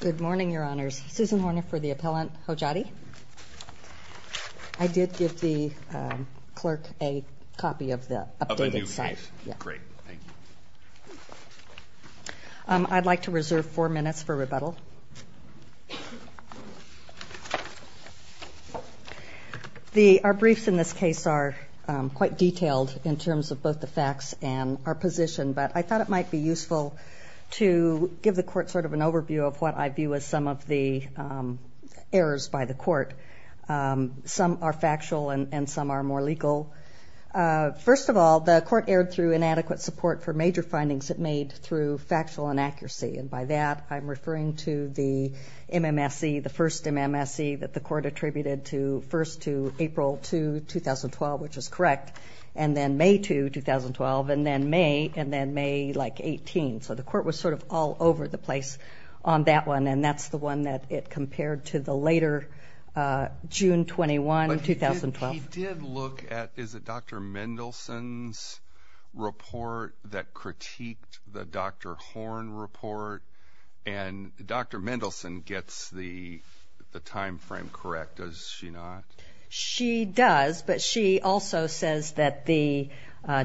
Good morning, Your Honors. Susan Horner for the Appellant Hodjati. I did give the clerk a copy of the updated site. I'd like to reserve four minutes for rebuttal. Our briefs in this case are quite detailed in terms of both the overview of what I view as some of the errors by the court. Some are factual and some are more legal. First of all, the court erred through inadequate support for major findings it made through factual inaccuracy. And by that, I'm referring to the MMSE, the first MMSE that the court attributed first to April 2, 2012, which is correct, and then May 2, 2012, which is correct, and then May 3, 2012, which is correct. But he did look at Dr. Mendelson's report that critiqued the Dr. Horn report, and Dr. Mendelson gets the time frame correct, does she not? She does, but she also says that the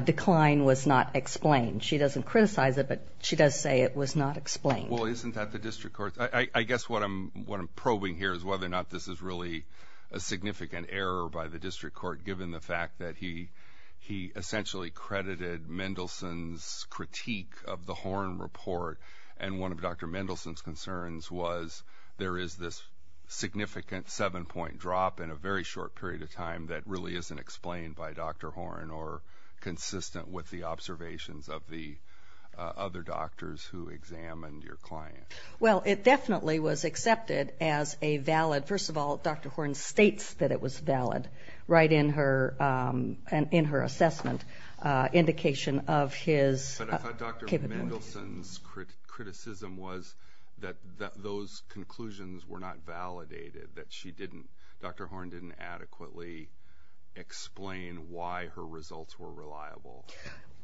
decline was not explained. She doesn't criticize it, but she does say it was not explained. Well, isn't that the district court's... I guess what I'm probing here is whether or not this is really a significant error by the district court, given the fact that he essentially credited Mendelson's critique of the Horn report, and one of Dr. Mendelson's concerns was there is this significant seven-point drop in a very short period of time that really isn't explained by Dr. Horn, or consistent with the observations of the other doctors who examined your client. Well, it definitely was accepted as a valid... First of all, Dr. Horn states that it was valid, right in her assessment indication of his capability. But I thought Dr. Mendelson's criticism was that those conclusions were not validated, that she didn't... Dr. Horn didn't adequately explain why her results were reliable.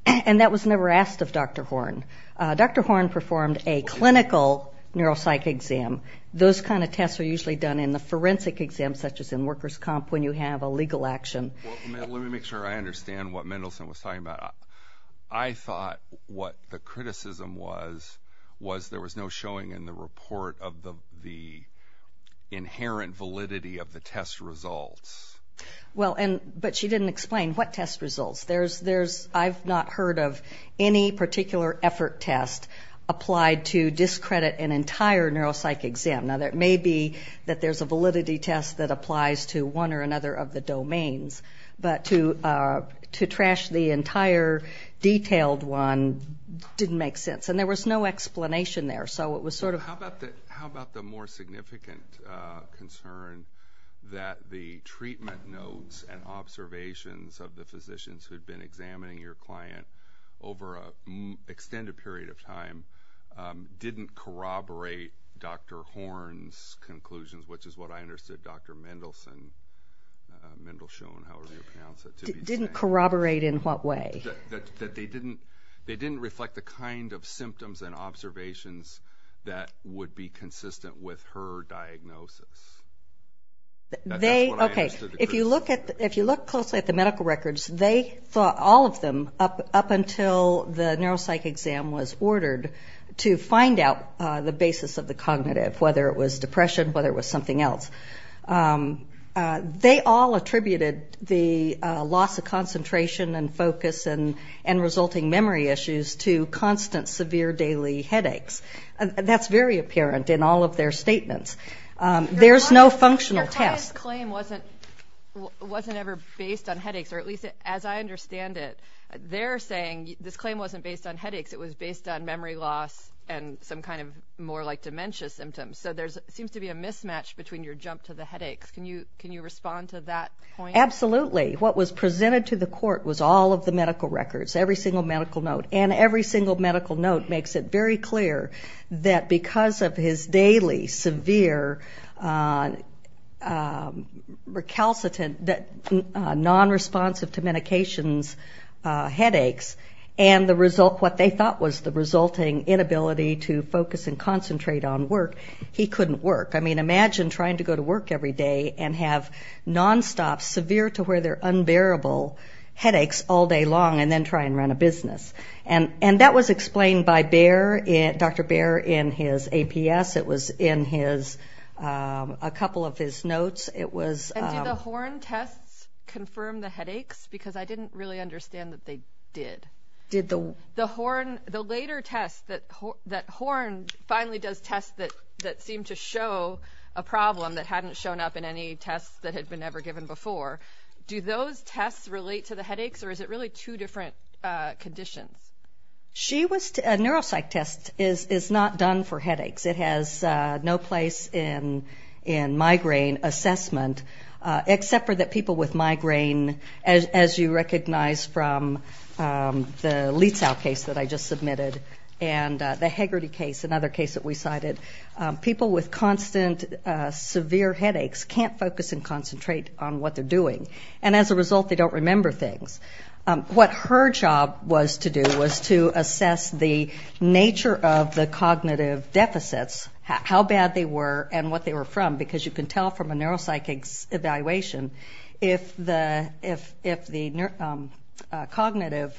And that was never asked of Dr. Horn. Dr. Horn performed a clinical neuropsych exam. Those kind of tests are usually done in the forensic exam, such as in workers' comp, when you have a legal action. Well, let me make sure I understand what Mendelson was talking about. I thought what the criticism was, was there was no showing in the report of the inherent validity of the test results. Well, and... But she didn't explain what test results. There's... I've not heard of any particular effort test applied to discredit an entire neuropsych exam. Now, there may be that there's a validity test that applies to one or another of the domains, but to trash the entire detailed one didn't make sense. And there was no explanation there, so it was sort of... How about the more significant concern that the treatment notes and observations of the physicians who'd been examining your client over an extended period of time didn't corroborate Dr. Horn's conclusions, which is what I understood Dr. Mendelson... Mendelshohn, how was he pronounced? Didn't corroborate in what way? That they didn't reflect the kind of symptoms and observations that would be consistent with her diagnosis. That's what I understood the criticism... Okay, if you look closely at the medical records, they thought, all of them, up until the neuropsych exam was ordered, to find out the basis of the cognitive, whether it was depression, whether it was something else. They all attributed the loss of concentration and focus and resulting memory issues to constant, severe daily headaches. That's very apparent in all of their statements. There's no functional test. Your client's claim wasn't ever based on headaches, or at least as I understand it, they're saying this claim wasn't based on headaches, it was based on memory loss and some kind of more like dementia symptoms. So there seems to be a mismatch between your jump to the headaches. Can you respond to that point? Absolutely. What was presented to the court was all of the medical records, every single medical note, and every single medical note makes it very clear that because of his daily severe recalcitrant, non-responsive to medications headaches, and what they thought was the resulting inability to focus and concentrate on work, he couldn't work. I mean, imagine trying to go to work every day and have non-stop, severe to where they're unbearable headaches all day long and then try and run a business. And that was explained by Dr. Baer in his APS. It was in a couple of his notes. And did the Horn tests confirm the headaches? Because I didn't really understand that they did, that Horn finally does tests that seem to show a problem that hadn't shown up in any tests that had been ever given before. Do those tests relate to the headaches, or is it really two different conditions? She was, a neuropsych test is not done for headaches. It has no place in migraine assessment, except for that people with migraine, as you recognize from the Leetzau case that I just submitted, and the Hegarty case, another case that we cited. People with constant severe headaches can't focus and concentrate on what they're doing. And as a result, they don't remember things. What her job was to do was to assess the nature of the cognitive deficits, how bad they were, and what they were from, because you can tell from a neuropsych evaluation if the cognitive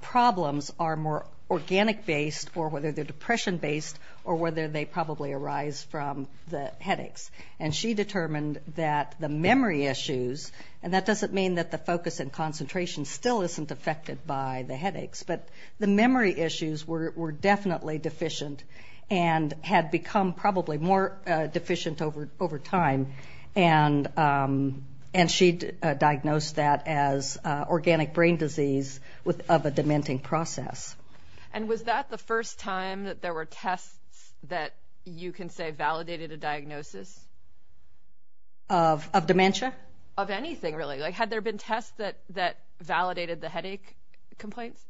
problems are more organic based, or whether they're depression based, or whether they probably arise from the headaches. And she determined that the memory issues, and that doesn't mean that the focus and concentration still isn't affected by the headaches, but the memory issues were definitely deficient, and had become probably more deficient over time. And she diagnosed that as organic brain disease of a dementing process. And was that the first time that there were tests that you can say validated a diagnosis? Of dementia? Of anything, really. Like, had there been tests that validated the headache complaints?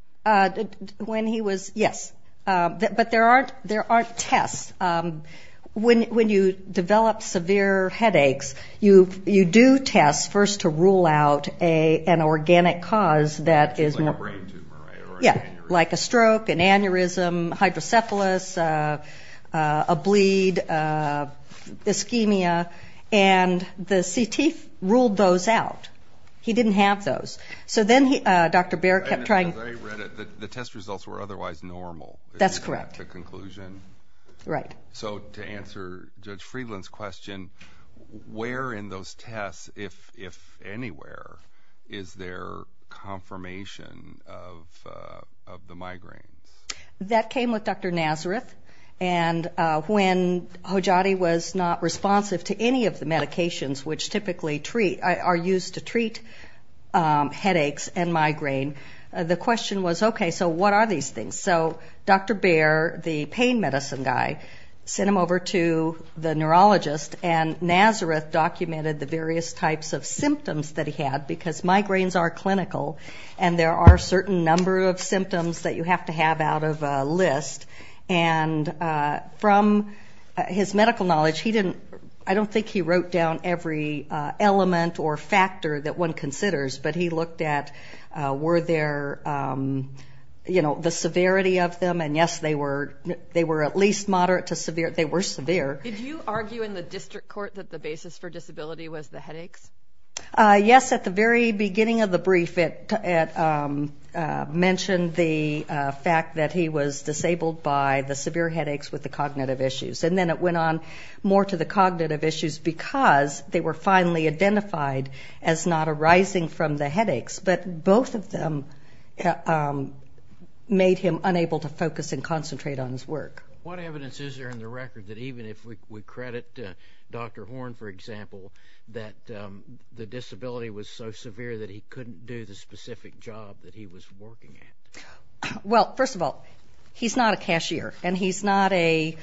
When he was, yes. But there aren't tests. When you develop severe headaches, you do test first to rule out an organic cause that is not. Like a brain tumor, right? Like a stroke, an aneurysm, hydrocephalus, a bleed, ischemia, and the CT ruled those out. He didn't have those. So then Dr. Baird kept trying... And they read it, the test results were otherwise normal. That's correct. At the conclusion. Right. So to answer Judge Friedland's question, where in those tests, if anywhere, is there confirmation of the migraines? That came with Dr. Nazareth. And when Hojati was not responsive to any of the medications which typically are used to treat headaches and migraine, the question was, okay, so what are these things? So Dr. Baird, the pain medicine guy, sent him over to the neurologist, and Nazareth documented the various types of symptoms that he had, because migraines are clinical, and there are a certain number of symptoms that you have to have out of a list. And from his medical knowledge, he didn't, I don't think he wrote down every element or factor that one considers, but he looked at were there, you know, the severity of them, and yes, they were at least moderate to severe, they were severe. Did you argue in the district court that the basis for disability was the headaches? Yes, at the very beginning of the brief, it mentioned the fact that he was disabled by the severe headaches with the cognitive issues, and then it went on more to the cognitive issues because they were finally identified as not arising from the headaches, but both of them made him unable to focus and concentrate on his work. What evidence is there in the record that even if we credit Dr. Horn, for example, that the disability was so severe that he couldn't do the specific job that he was working at? Well, first of all, he's not a cashier, and he's not an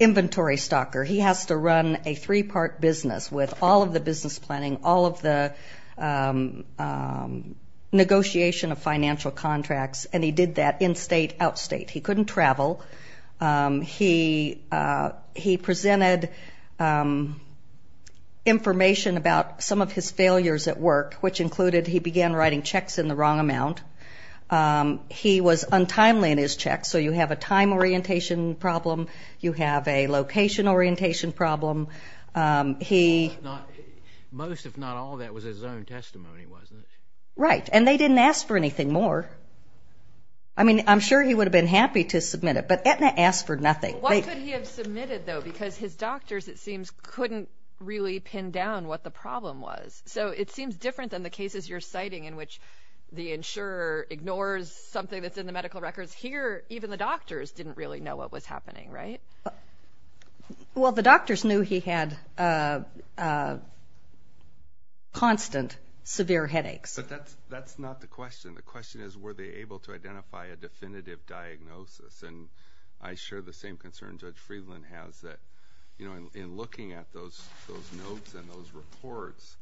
inventory stocker. He has to run a three-part business with all of the business planning, all of the negotiation of financial contracts, and he did that in-state, out-state. He couldn't travel. He presented information about some of his failures at work, which included he began writing checks in the wrong amount. He was untimely in his checks, so you have a time orientation problem. You have a location orientation problem. Most, if not all, that was his own testimony, wasn't it? Right, and they didn't ask for anything more. I mean, I'm sure he would have been happy to submit it, but Aetna asked for nothing. Why could he have submitted, though? Because his doctors, it seems, couldn't really pin down what the problem was. So it seems different than the cases you're citing in which the insurer ignores something that's in the medical records. Here, even the doctors didn't really know what was happening, right? Well, the doctors knew he had constant severe headaches. That's not the question. The question is were they able to identify a definitive diagnosis, and I share the same concern Judge Friedland has that, you know, in looking at those notes and those reports,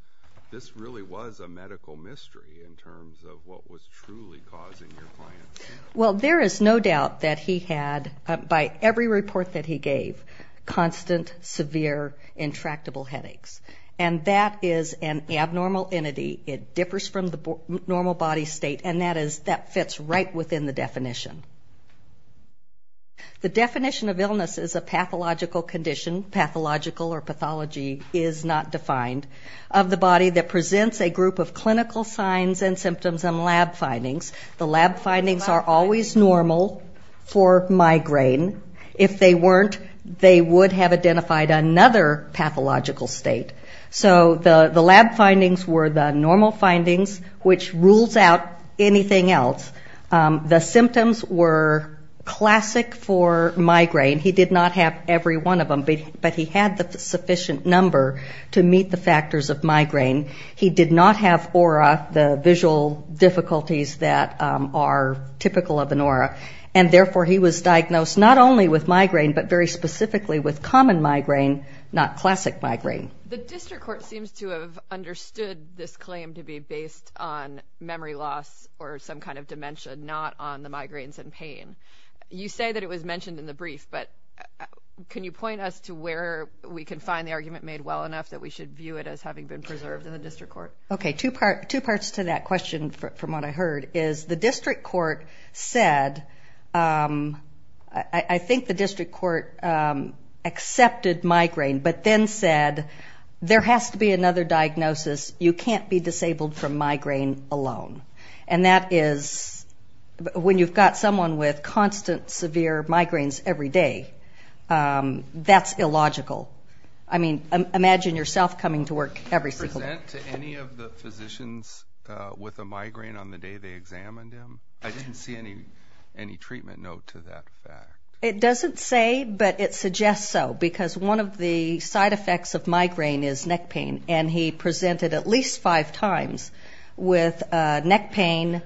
this really was a medical mystery in terms of what was truly causing your client's headaches. Well, there is no doubt that he had, by every report that he gave, constant, severe, intractable headaches, and that is an abnormal entity. It differs from the normal body state, and that fits right within the definition. The definition of illness is a pathological condition, pathological or pathology is not defined, of the body that presents a group of clinical signs and symptoms and lab findings. The lab findings are always normal for migraine. If they weren't, they would have identified another pathological state. So the lab findings were the normal findings, which rules out anything else. The symptoms were classic for migraine. He did not have every one of them, but he had the sufficient number to meet the factors of migraine. He did not have aura, the visual difficulties that are typical of an aura, and therefore he was diagnosed not only with migraine, but very specifically with common migraine, not classic migraine. The district court seems to have understood this claim to be based on memory loss or some kind of dementia, not on the migraines and pain. You say that it was mentioned in the brief, but can you point us to where we can find the argument made well enough that we should view it as having been preserved in the district court? Okay, two parts to that question from what I heard is the district court said, I think the district court accepted migraine, but then said there has to be another diagnosis, you can't be disabled from migraine alone. And that is when you've got someone with constant severe migraines every day, that's illogical. I mean, imagine yourself coming to work every single day. Do you present to any of the physicians with a migraine on the day they examined him? I didn't see any treatment note to that fact. It doesn't say, but it suggests so, because one of the side effects of migraine is neck pain. He had neck pain four or five times. With neck pain,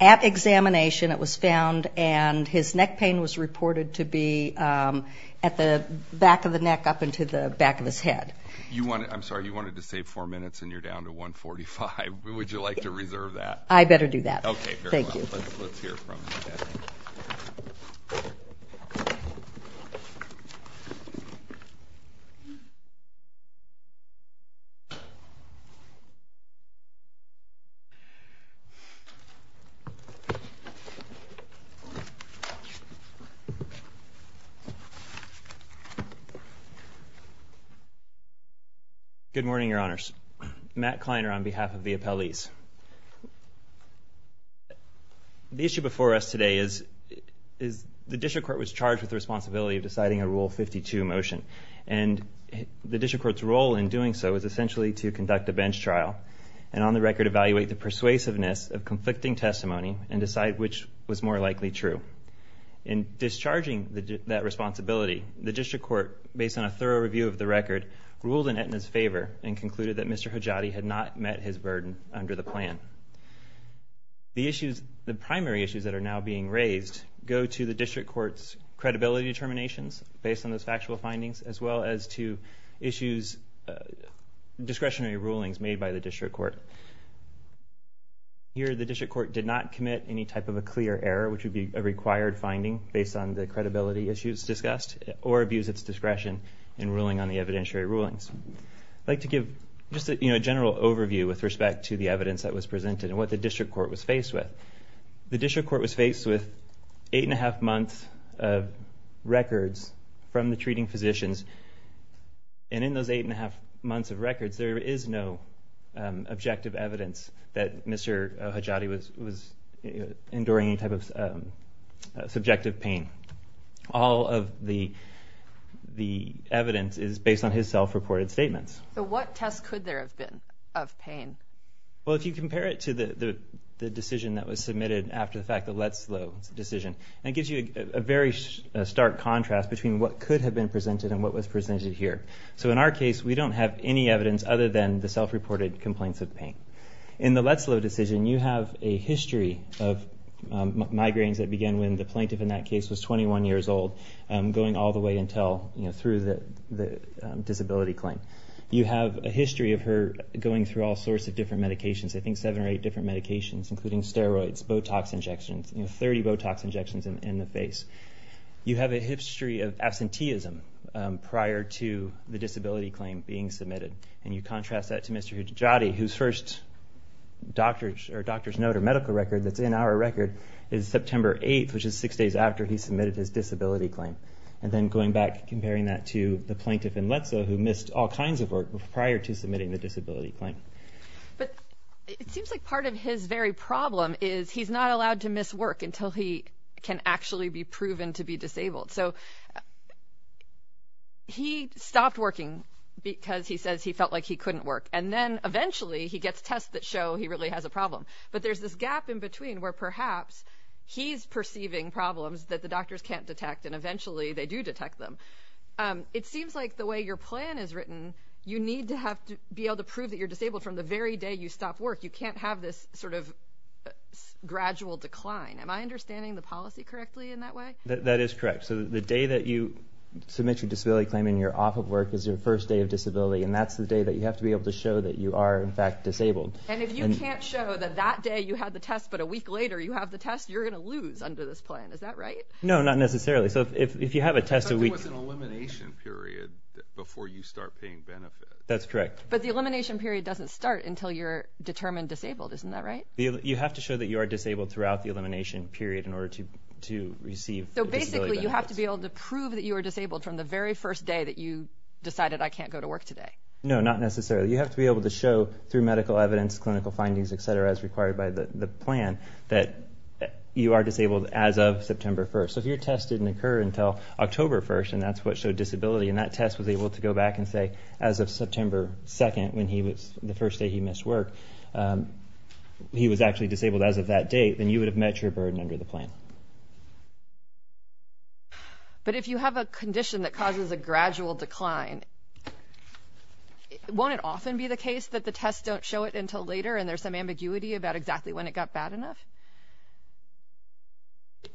at examination it was found and his neck pain was reported to be at the back of the neck up into the back of his head. You wanted, I'm sorry, you wanted to save four minutes and you're down to 1.45. Would you like to reserve that? I better do that. Okay, fair enough. Thank you. Let's hear from him. Good morning, Your Honors. Matt Kleiner on behalf of the appellees. The issue before us today is the district court was charged with the responsibility of deciding a Rule 52 motion, and the district court's role in doing so is essentially to conduct a bench trial and on the record evaluate the persuasiveness of conflicting testimony and decide which was more likely true. In discharging that responsibility, the district court, based on a thorough review of the record, ruled in Aetna's favor and concluded that Mr. Hajati had not met his burden under the plan. The primary issues that are now being raised go to the district court's credibility determinations based on those factual findings as well as to discretionary rulings made by the district court. Here the district court did not commit any type of a clear error, which would be a required finding based on the credibility issues discussed, or abuse its discretion in ruling on the evidentiary rulings. I'd like to give just a general overview with respect to the evidence that was presented and what the district court was faced with. The district court was faced with eight and a half months of records from the treating physicians, and in those eight and a half months of records there is no objective evidence that Mr. Hajati was enduring any type of subjective pain. All of the evidence is based on his self-reported statements. What test could there have been of pain? If you compare it to the decision that was submitted after the fact, the Letzlo decision, it gives you a very stark contrast between what could have been presented and what was presented here. In our case, we don't have any evidence other than the self-reported complaints of pain. In the Letzlo decision, you have a history of migraines that began when the plaintiff in that case was 21 years old, going all the way through the disability claim. You have a history of her going through all sorts of different medications, I think seven or eight different medications, including steroids, Botox injections, 30 Botox injections in the face. You have a history of absenteeism prior to the disability claim being submitted, and you contrast that to Mr. Hajati, whose first doctor's note or medical record that's in our record is September 8th, which is six days after he submitted his disability claim. Then going back, comparing that to the plaintiff in Letzlo who missed all kinds of work prior to submitting the disability claim. It seems like part of his very problem is he's not allowed to miss work until he can actually be proven to be disabled. He stopped working because he says he felt like he couldn't work, and then eventually he gets tests that show he really has a problem. But there's this gap in between where perhaps he's perceiving problems that the doctors can't detect, and eventually they do detect them. It seems like the way your plan is written, you need to be able to prove that you're disabled from the very day you stop work. You can't have this sort of gradual decline. Am I understanding the policy correctly in that way? That is correct. So the day that you submit your disability claim and you're off of work is your first day of disability, and that's the day that you have to be able to show that you are in fact disabled. And if you can't show that that day you had the test, but a week later you have the test, you're going to lose under this plan. Is that right? No, not necessarily. So if you have a test a week... Something was an elimination period before you start paying benefits. That's correct. But the elimination period doesn't start until you're determined disabled, isn't that right? You have to show that you are disabled throughout the elimination period in order to receive disability benefits. So basically, you have to be able to prove that you are disabled from the very first day that you decided, I can't go to work today. No, not necessarily. You have to be able to show through medical evidence, clinical findings, etc., as required by the plan, that you are disabled as of September 1st. So if your test didn't occur until October 1st, and that's what showed disability, and that test was able to go back and say as of September 2nd, when he was, the first day he missed work, he was actually disabled as of that date, then you would have met your burden under the plan. But if you have a condition that causes a gradual decline, won't it often be the case that the tests don't show it until later, and there's some ambiguity about exactly when it got bad enough?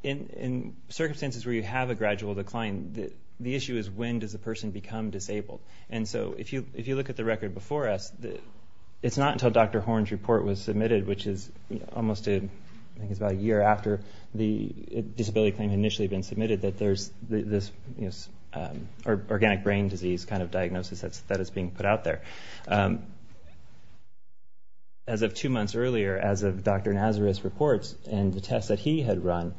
In circumstances where you have a gradual decline, the issue is when does the person become disabled. And so if you look at the record before us, it's not until Dr. Horn's report was submitted, which is almost a year after the disability claim had initially been submitted, that there's this organic brain disease kind of diagnosis that is being put out there. As of two months earlier, as of Dr. Nazareth's reports and the tests that he had run,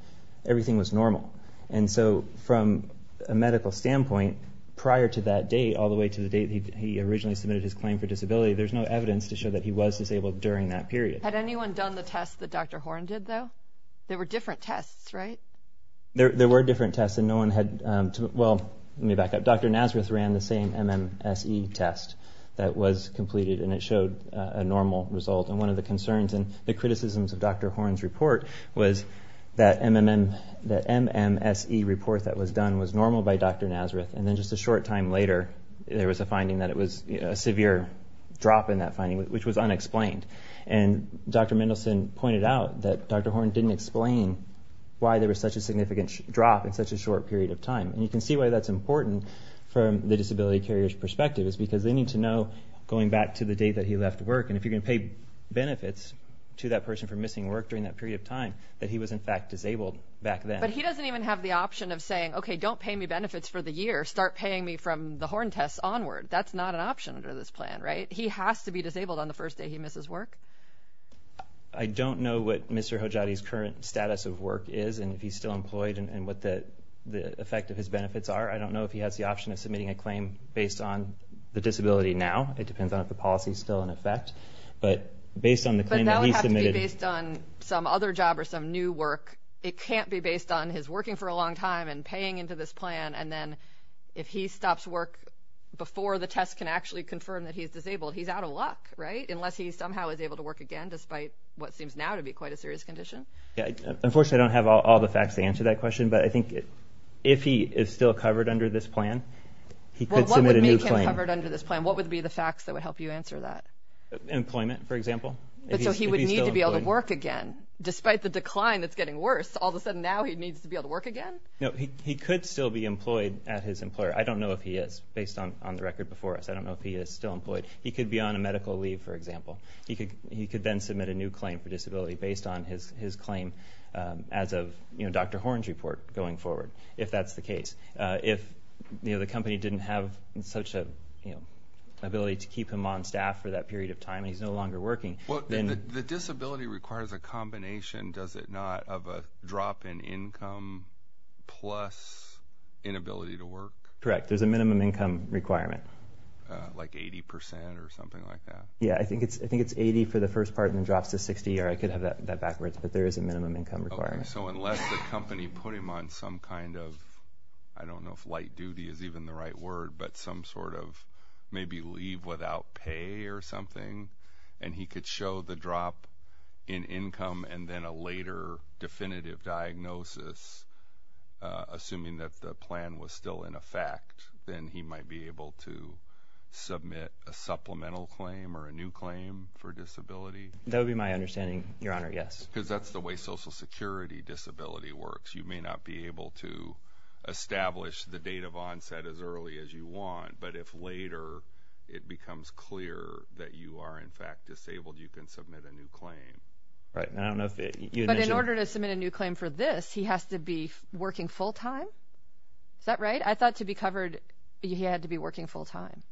everything was normal. And so from a medical standpoint, prior to that date, all the way to the date that he originally submitted his claim for disability, there's no evidence to show that he was disabled during that period. Had anyone done the tests that Dr. Horn did, though? There were different tests, right? There were different tests, and no one had to—well, let me back up. Dr. Nazareth ran the same MMSE test that was completed, and it showed a normal result. And one of the concerns and the criticisms of Dr. Horn's report was that MMSE report that was done was normal by Dr. Nazareth, and then just a short time later, there was a finding that it was a severe drop in that finding, which was unexplained. And Dr. Mendelsohn pointed out that Dr. Horn didn't explain why there was such a significant drop in such a short period of time. And you can see why that's important from the disability carrier's perspective, is because they need to know, going back to the date that he left work, and if you're going to pay benefits to that person for missing work during that period of time, that he was in fact disabled back then. But he doesn't even have the option of saying, okay, don't pay me benefits for the year. Start paying me from the Horn tests onward. That's not an option under this plan, right? He has to be disabled on the first day he misses work. I don't know what Mr. Hojjadi's current status of work is, and if he's still employed, and what the effect of his benefits are. I don't know if he has the option of submitting a claim based on the disability now. It depends on if the policy's still in effect. But based on the claim that he submitted... But that would have to be based on some other job or some new work. It can't be based on his working for a long time and paying into this plan, and then if he stops work before the test can actually confirm that he's disabled, he's out of luck, right? Unless he somehow is able to work again, despite what seems now to be quite a serious condition. Unfortunately, I don't have all the facts to answer that question, but I think if he is still covered under this plan, he could submit a new claim. Well, what would make him covered under this plan? What would be the facts that would help you answer that? Employment, for example. But so he would need to be able to work again, despite the decline that's getting worse. All of a sudden, now he needs to be able to work again? No, he could still be employed at his employer. I don't know if he is, based on the record before us. I don't know if he is still employed. He could be on a medical leave, for example. He could then submit a new claim for disability based on his claim as of Dr. Horn's report going forward, if that's the case. If the company didn't have such an ability to keep him on staff for that period of time and he's no longer working, then... The disability requires a combination, does it not, of a drop in income plus inability to work? Correct. There's a minimum income requirement. Like 80% or something like that? Yeah, I think it's 80% for the first part and then drops to 60% or I could have that backwards, but there is a minimum income requirement. So unless the company put him on some kind of, I don't know if light duty is even the right word, but some sort of maybe leave without pay or something, and he could show the drop in income and then a later definitive diagnosis, assuming that the plan was still in effect, then he might be able to submit a supplemental claim or a new claim for disability? That would be my understanding, Your Honor, yes. Because that's the way Social Security disability works. You may not be able to establish the date of onset as early as you want, but if later it becomes clear that you are in fact disabled, you can submit a new claim. Right, and I don't know if you had mentioned... But in order to submit a new claim for this, he has to be working full-time? Is that right? I thought to be covered, he had to be working full-time,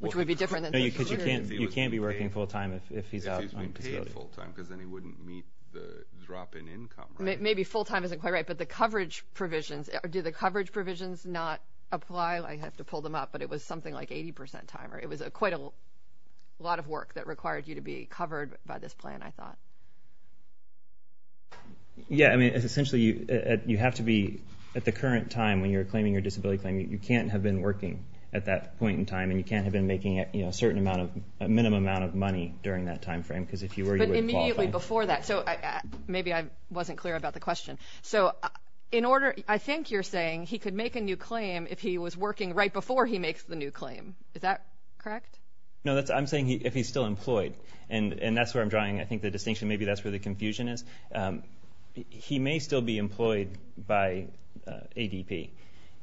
which would be different than... No, because you can't be working full-time if he's out on disability. If he's been paid full-time, because then he wouldn't meet the drop in income, right? Maybe full-time isn't quite right, but the coverage provisions, do the coverage provisions not apply? I have to pull them up, but it was something like 80% time, or it was quite a lot of work that required you to be covered by this plan, I thought. Yeah, I mean, essentially, you have to be at the current time when you're claiming your disability claim. You can't have been working at that point in time, and you can't have been making a certain amount of... a minimum amount of money during that time frame, because if you were, you wouldn't qualify. But immediately before that, so maybe I wasn't clear about the question. I think you're saying he could make a new claim if he was working right before he makes the new claim. Is that correct? No, I'm saying if he's still employed, and that's where I'm drawing, I think, the distinction, maybe that's where the confusion is. He may still be employed by ADP.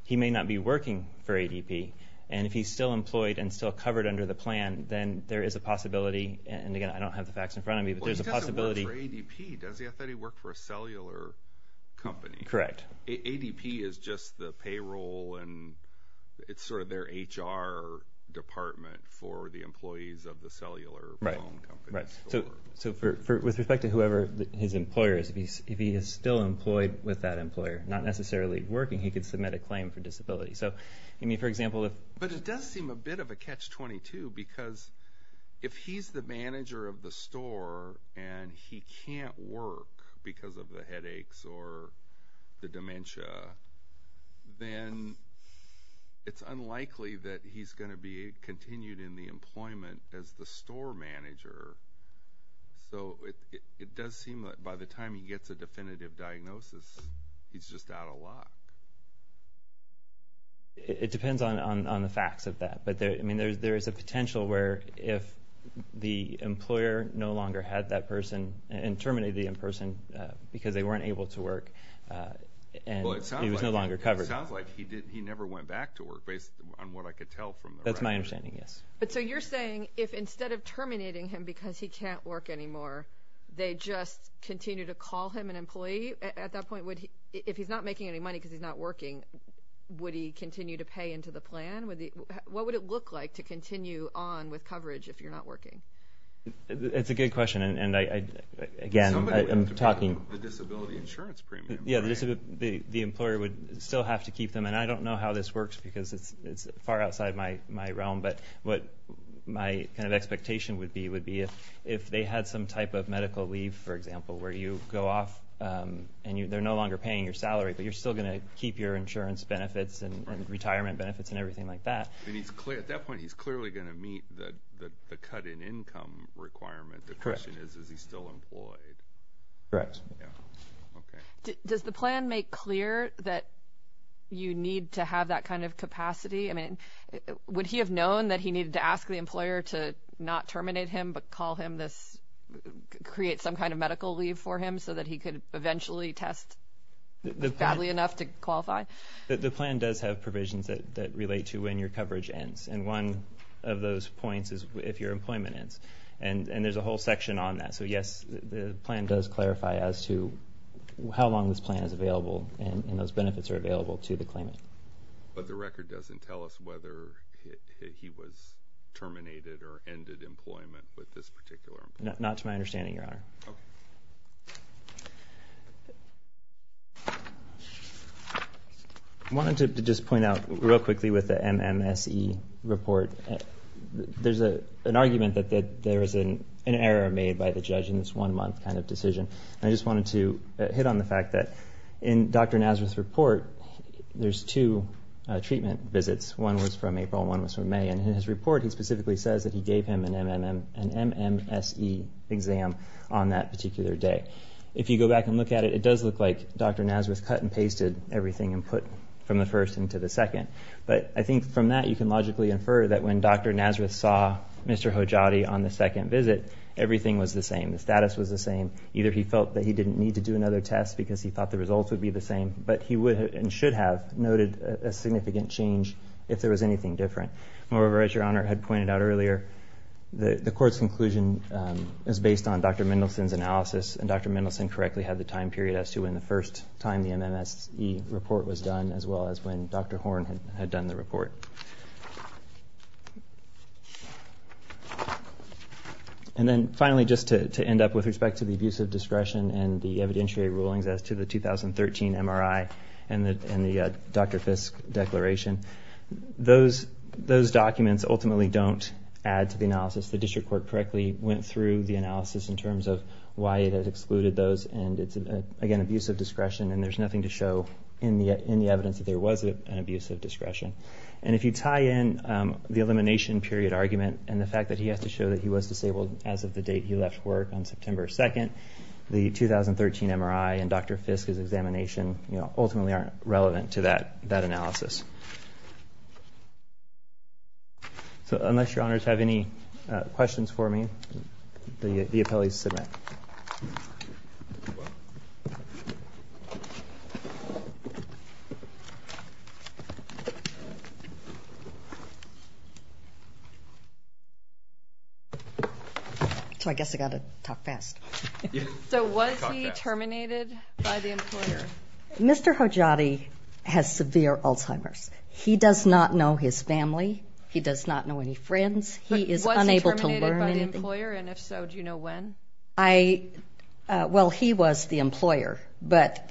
He may not be working for ADP, and if he's still employed and still covered under the plan, then there is a possibility, and again, I don't have the facts in front of me, Well, he doesn't work for ADP, does he? I thought he worked for a cellular company. Correct. ADP is just the payroll, and it's sort of their HR department for the employees of the cellular phone company. Right, so with respect to whoever his employer is, if he is still employed with that employer, not necessarily working, he could submit a claim for disability. So, I mean, for example, if... It does seem a bit of a catch-22 because if he's the manager of the store and he can't work because of the headaches or the dementia, then it's unlikely that he's going to be continued in the employment as the store manager. So it does seem that by the time he gets a definitive diagnosis, he's just out of luck. It depends on the facts of that. But, I mean, there is a potential where if the employer no longer had that person and terminated the in-person because they weren't able to work and he was no longer covered. Well, it sounds like he never went back to work, based on what I could tell from the record. That's my understanding, yes. But so you're saying if instead of terminating him because he can't work anymore, they just continue to call him an employee at that point? If he's not making any money because he's not working, would he continue to pay into the plan? What would it look like to continue on with coverage if you're not working? It's a good question. And, again, I'm talking... Somebody would have to pay the disability insurance premium, right? Yeah, the employer would still have to keep them. And I don't know how this works because it's far outside my realm. But what my kind of expectation would be would be if they had some type of medical leave, for example, where you go off and they're no longer paying your salary, but you're still going to keep your insurance benefits and retirement benefits and everything like that. At that point, he's clearly going to meet the cut in income requirement. The question is, is he still employed? Correct. Does the plan make clear that you need to have that kind of capacity? I mean, would he have known that he needed to ask the employer to not terminate him but create some kind of medical leave for him so that he could eventually test badly enough to qualify? The plan does have provisions that relate to when your coverage ends. And one of those points is if your employment ends. And there's a whole section on that. So, yes, the plan does clarify as to how long this plan is available and those benefits are available to the claimant. But the record doesn't tell us whether he was terminated or ended employment with this particular employer? Not to my understanding, Your Honor. Okay. I wanted to just point out real quickly with the MMSE report, there's an argument that there was an error made by the judge in this one-month kind of decision. And I just wanted to hit on the fact that in Dr. Nazareth's report, there's two treatment visits. One was from April. One was from May. And in his report, he specifically says that he gave him an MMSE exam on that particular day. If you go back and look at it, it does look like Dr. Nazareth cut and pasted everything and put from the first into the second. But I think from that, you can logically infer that when Dr. Nazareth saw Mr. Hojjadi on the second visit, everything was the same. The status was the same. Either he felt that he didn't need to do another test because he thought the results would be the same, but he would and should have noted a significant change if there was anything different. Moreover, as Your Honor had pointed out earlier, the court's conclusion is based on Dr. Mendelson's analysis. And Dr. Mendelson correctly had the time period as to when the first time the MMSE report was done as well as when Dr. Horn had done the report. And then finally, just to end up with respect to the abuse of discretion and the evidentiary rulings as to the 2013 MRI and the Dr. Fiske declaration, those documents ultimately don't add to the analysis. The district court correctly went through the analysis in terms of why it had excluded those, and it's, again, abuse of discretion, and there's nothing to show in the evidence that there was an abuse of discretion. And if you tie in the elimination period argument and the fact that he has to show that he was disabled as of the date he left work on September 2nd, the 2013 MRI and Dr. Fiske's examination ultimately aren't relevant to that analysis. So unless Your Honors have any questions for me, the appellees submit. So I guess I've got to talk fast. So was he terminated by the employer? Mr. Hojati has severe Alzheimer's. He does not know his family. He does not know any friends. He is unable to learn anything. Was he terminated by the employer? And if so, do you know when? Well, he was the employer, but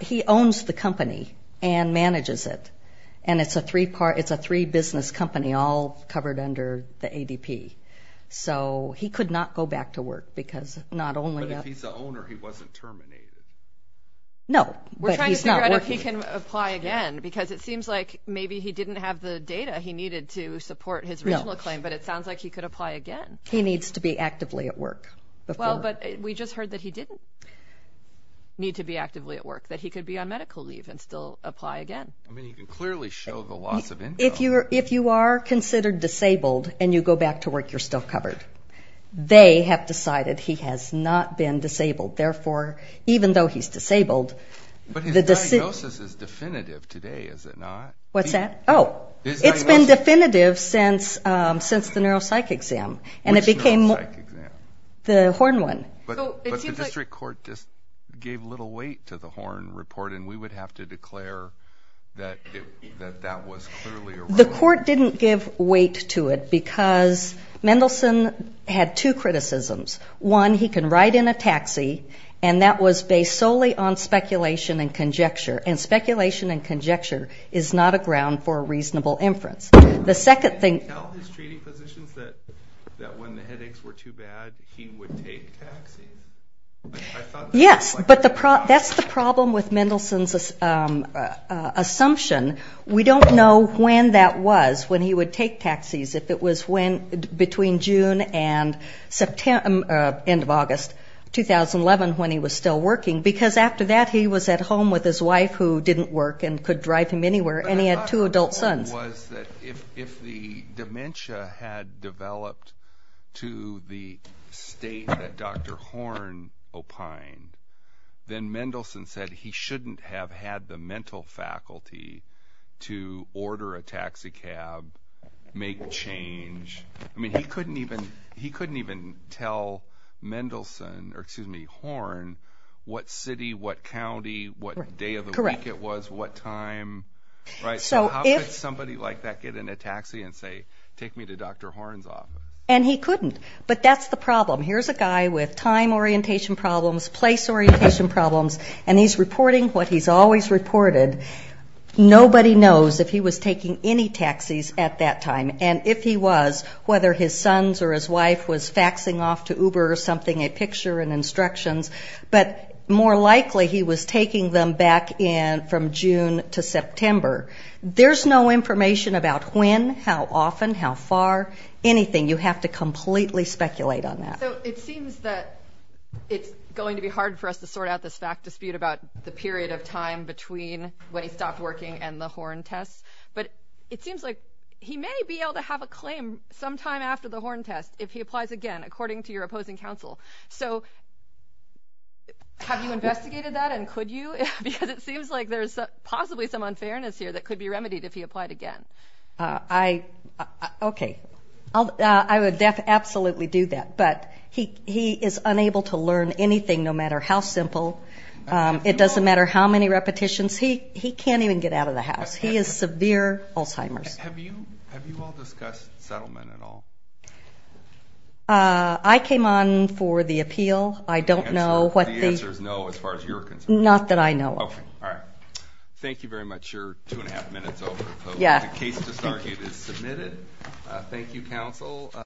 he owns the company and manages it, and it's a three-business company all covered under the ADP. So he could not go back to work because not only that. If he's the owner, he wasn't terminated. No, but he's not working. We're trying to figure out if he can apply again, because it seems like maybe he didn't have the data he needed to support his original claim, but it sounds like he could apply again. He needs to be actively at work. Well, but we just heard that he didn't need to be actively at work, that he could be on medical leave and still apply again. I mean, you can clearly show the loss of income. If you are considered disabled and you go back to work, you're still covered. They have decided he has not been disabled. Therefore, even though he's disabled. But his diagnosis is definitive today, is it not? What's that? Oh, it's been definitive since the neuropsych exam. Which neuropsych exam? The Horn one. But the district court just gave little weight to the Horn report, and we would have to declare that that was clearly a wrong report. The court didn't give weight to it because Mendelsohn had two criticisms. One, he can ride in a taxi, and that was based solely on speculation and conjecture, and speculation and conjecture is not a ground for a reasonable inference. The second thing – Did he tell his treating physicians that when the headaches were too bad, he would take a taxi? Yes, but that's the problem with Mendelsohn's assumption. We don't know when that was, when he would take taxis, if it was between June and end of August 2011 when he was still working, because after that he was at home with his wife who didn't work and could drive him anywhere, and he had two adult sons. What I thought was that if the dementia had developed to the state that Dr. Horn opined, then Mendelsohn said he shouldn't have had the mental faculty to order a taxi cab, make change. I mean, he couldn't even tell Mendelsohn, or excuse me, Horn, what city, what county, what day of the week it was, what time, right? So how could somebody like that get in a taxi and say, take me to Dr. Horn's office? And he couldn't, but that's the problem. Here's a guy with time orientation problems, place orientation problems, and he's reporting what he's always reported. Nobody knows if he was taking any taxis at that time, and if he was, whether his sons or his wife was faxing off to Uber or something, a picture and instructions, but more likely he was taking them back from June to September. There's no information about when, how often, how far, anything. You have to completely speculate on that. So it seems that it's going to be hard for us to sort out this fact dispute about the period of time between when he stopped working and the Horn test, but it seems like he may be able to have a claim sometime after the Horn test if he applies again, according to your opposing counsel. So have you investigated that, and could you? Because it seems like there's possibly some unfairness here that could be remedied if he applied again. Okay. I would absolutely do that, but he is unable to learn anything, no matter how simple. It doesn't matter how many repetitions. He can't even get out of the house. He has severe Alzheimer's. Have you all discussed settlement at all? I came on for the appeal. I don't know what the answer is. The answer is no as far as you're concerned. Not that I know of. Okay. All right. Thank you very much. We're two and a half minutes over. The case disargued is submitted. Thank you, counsel.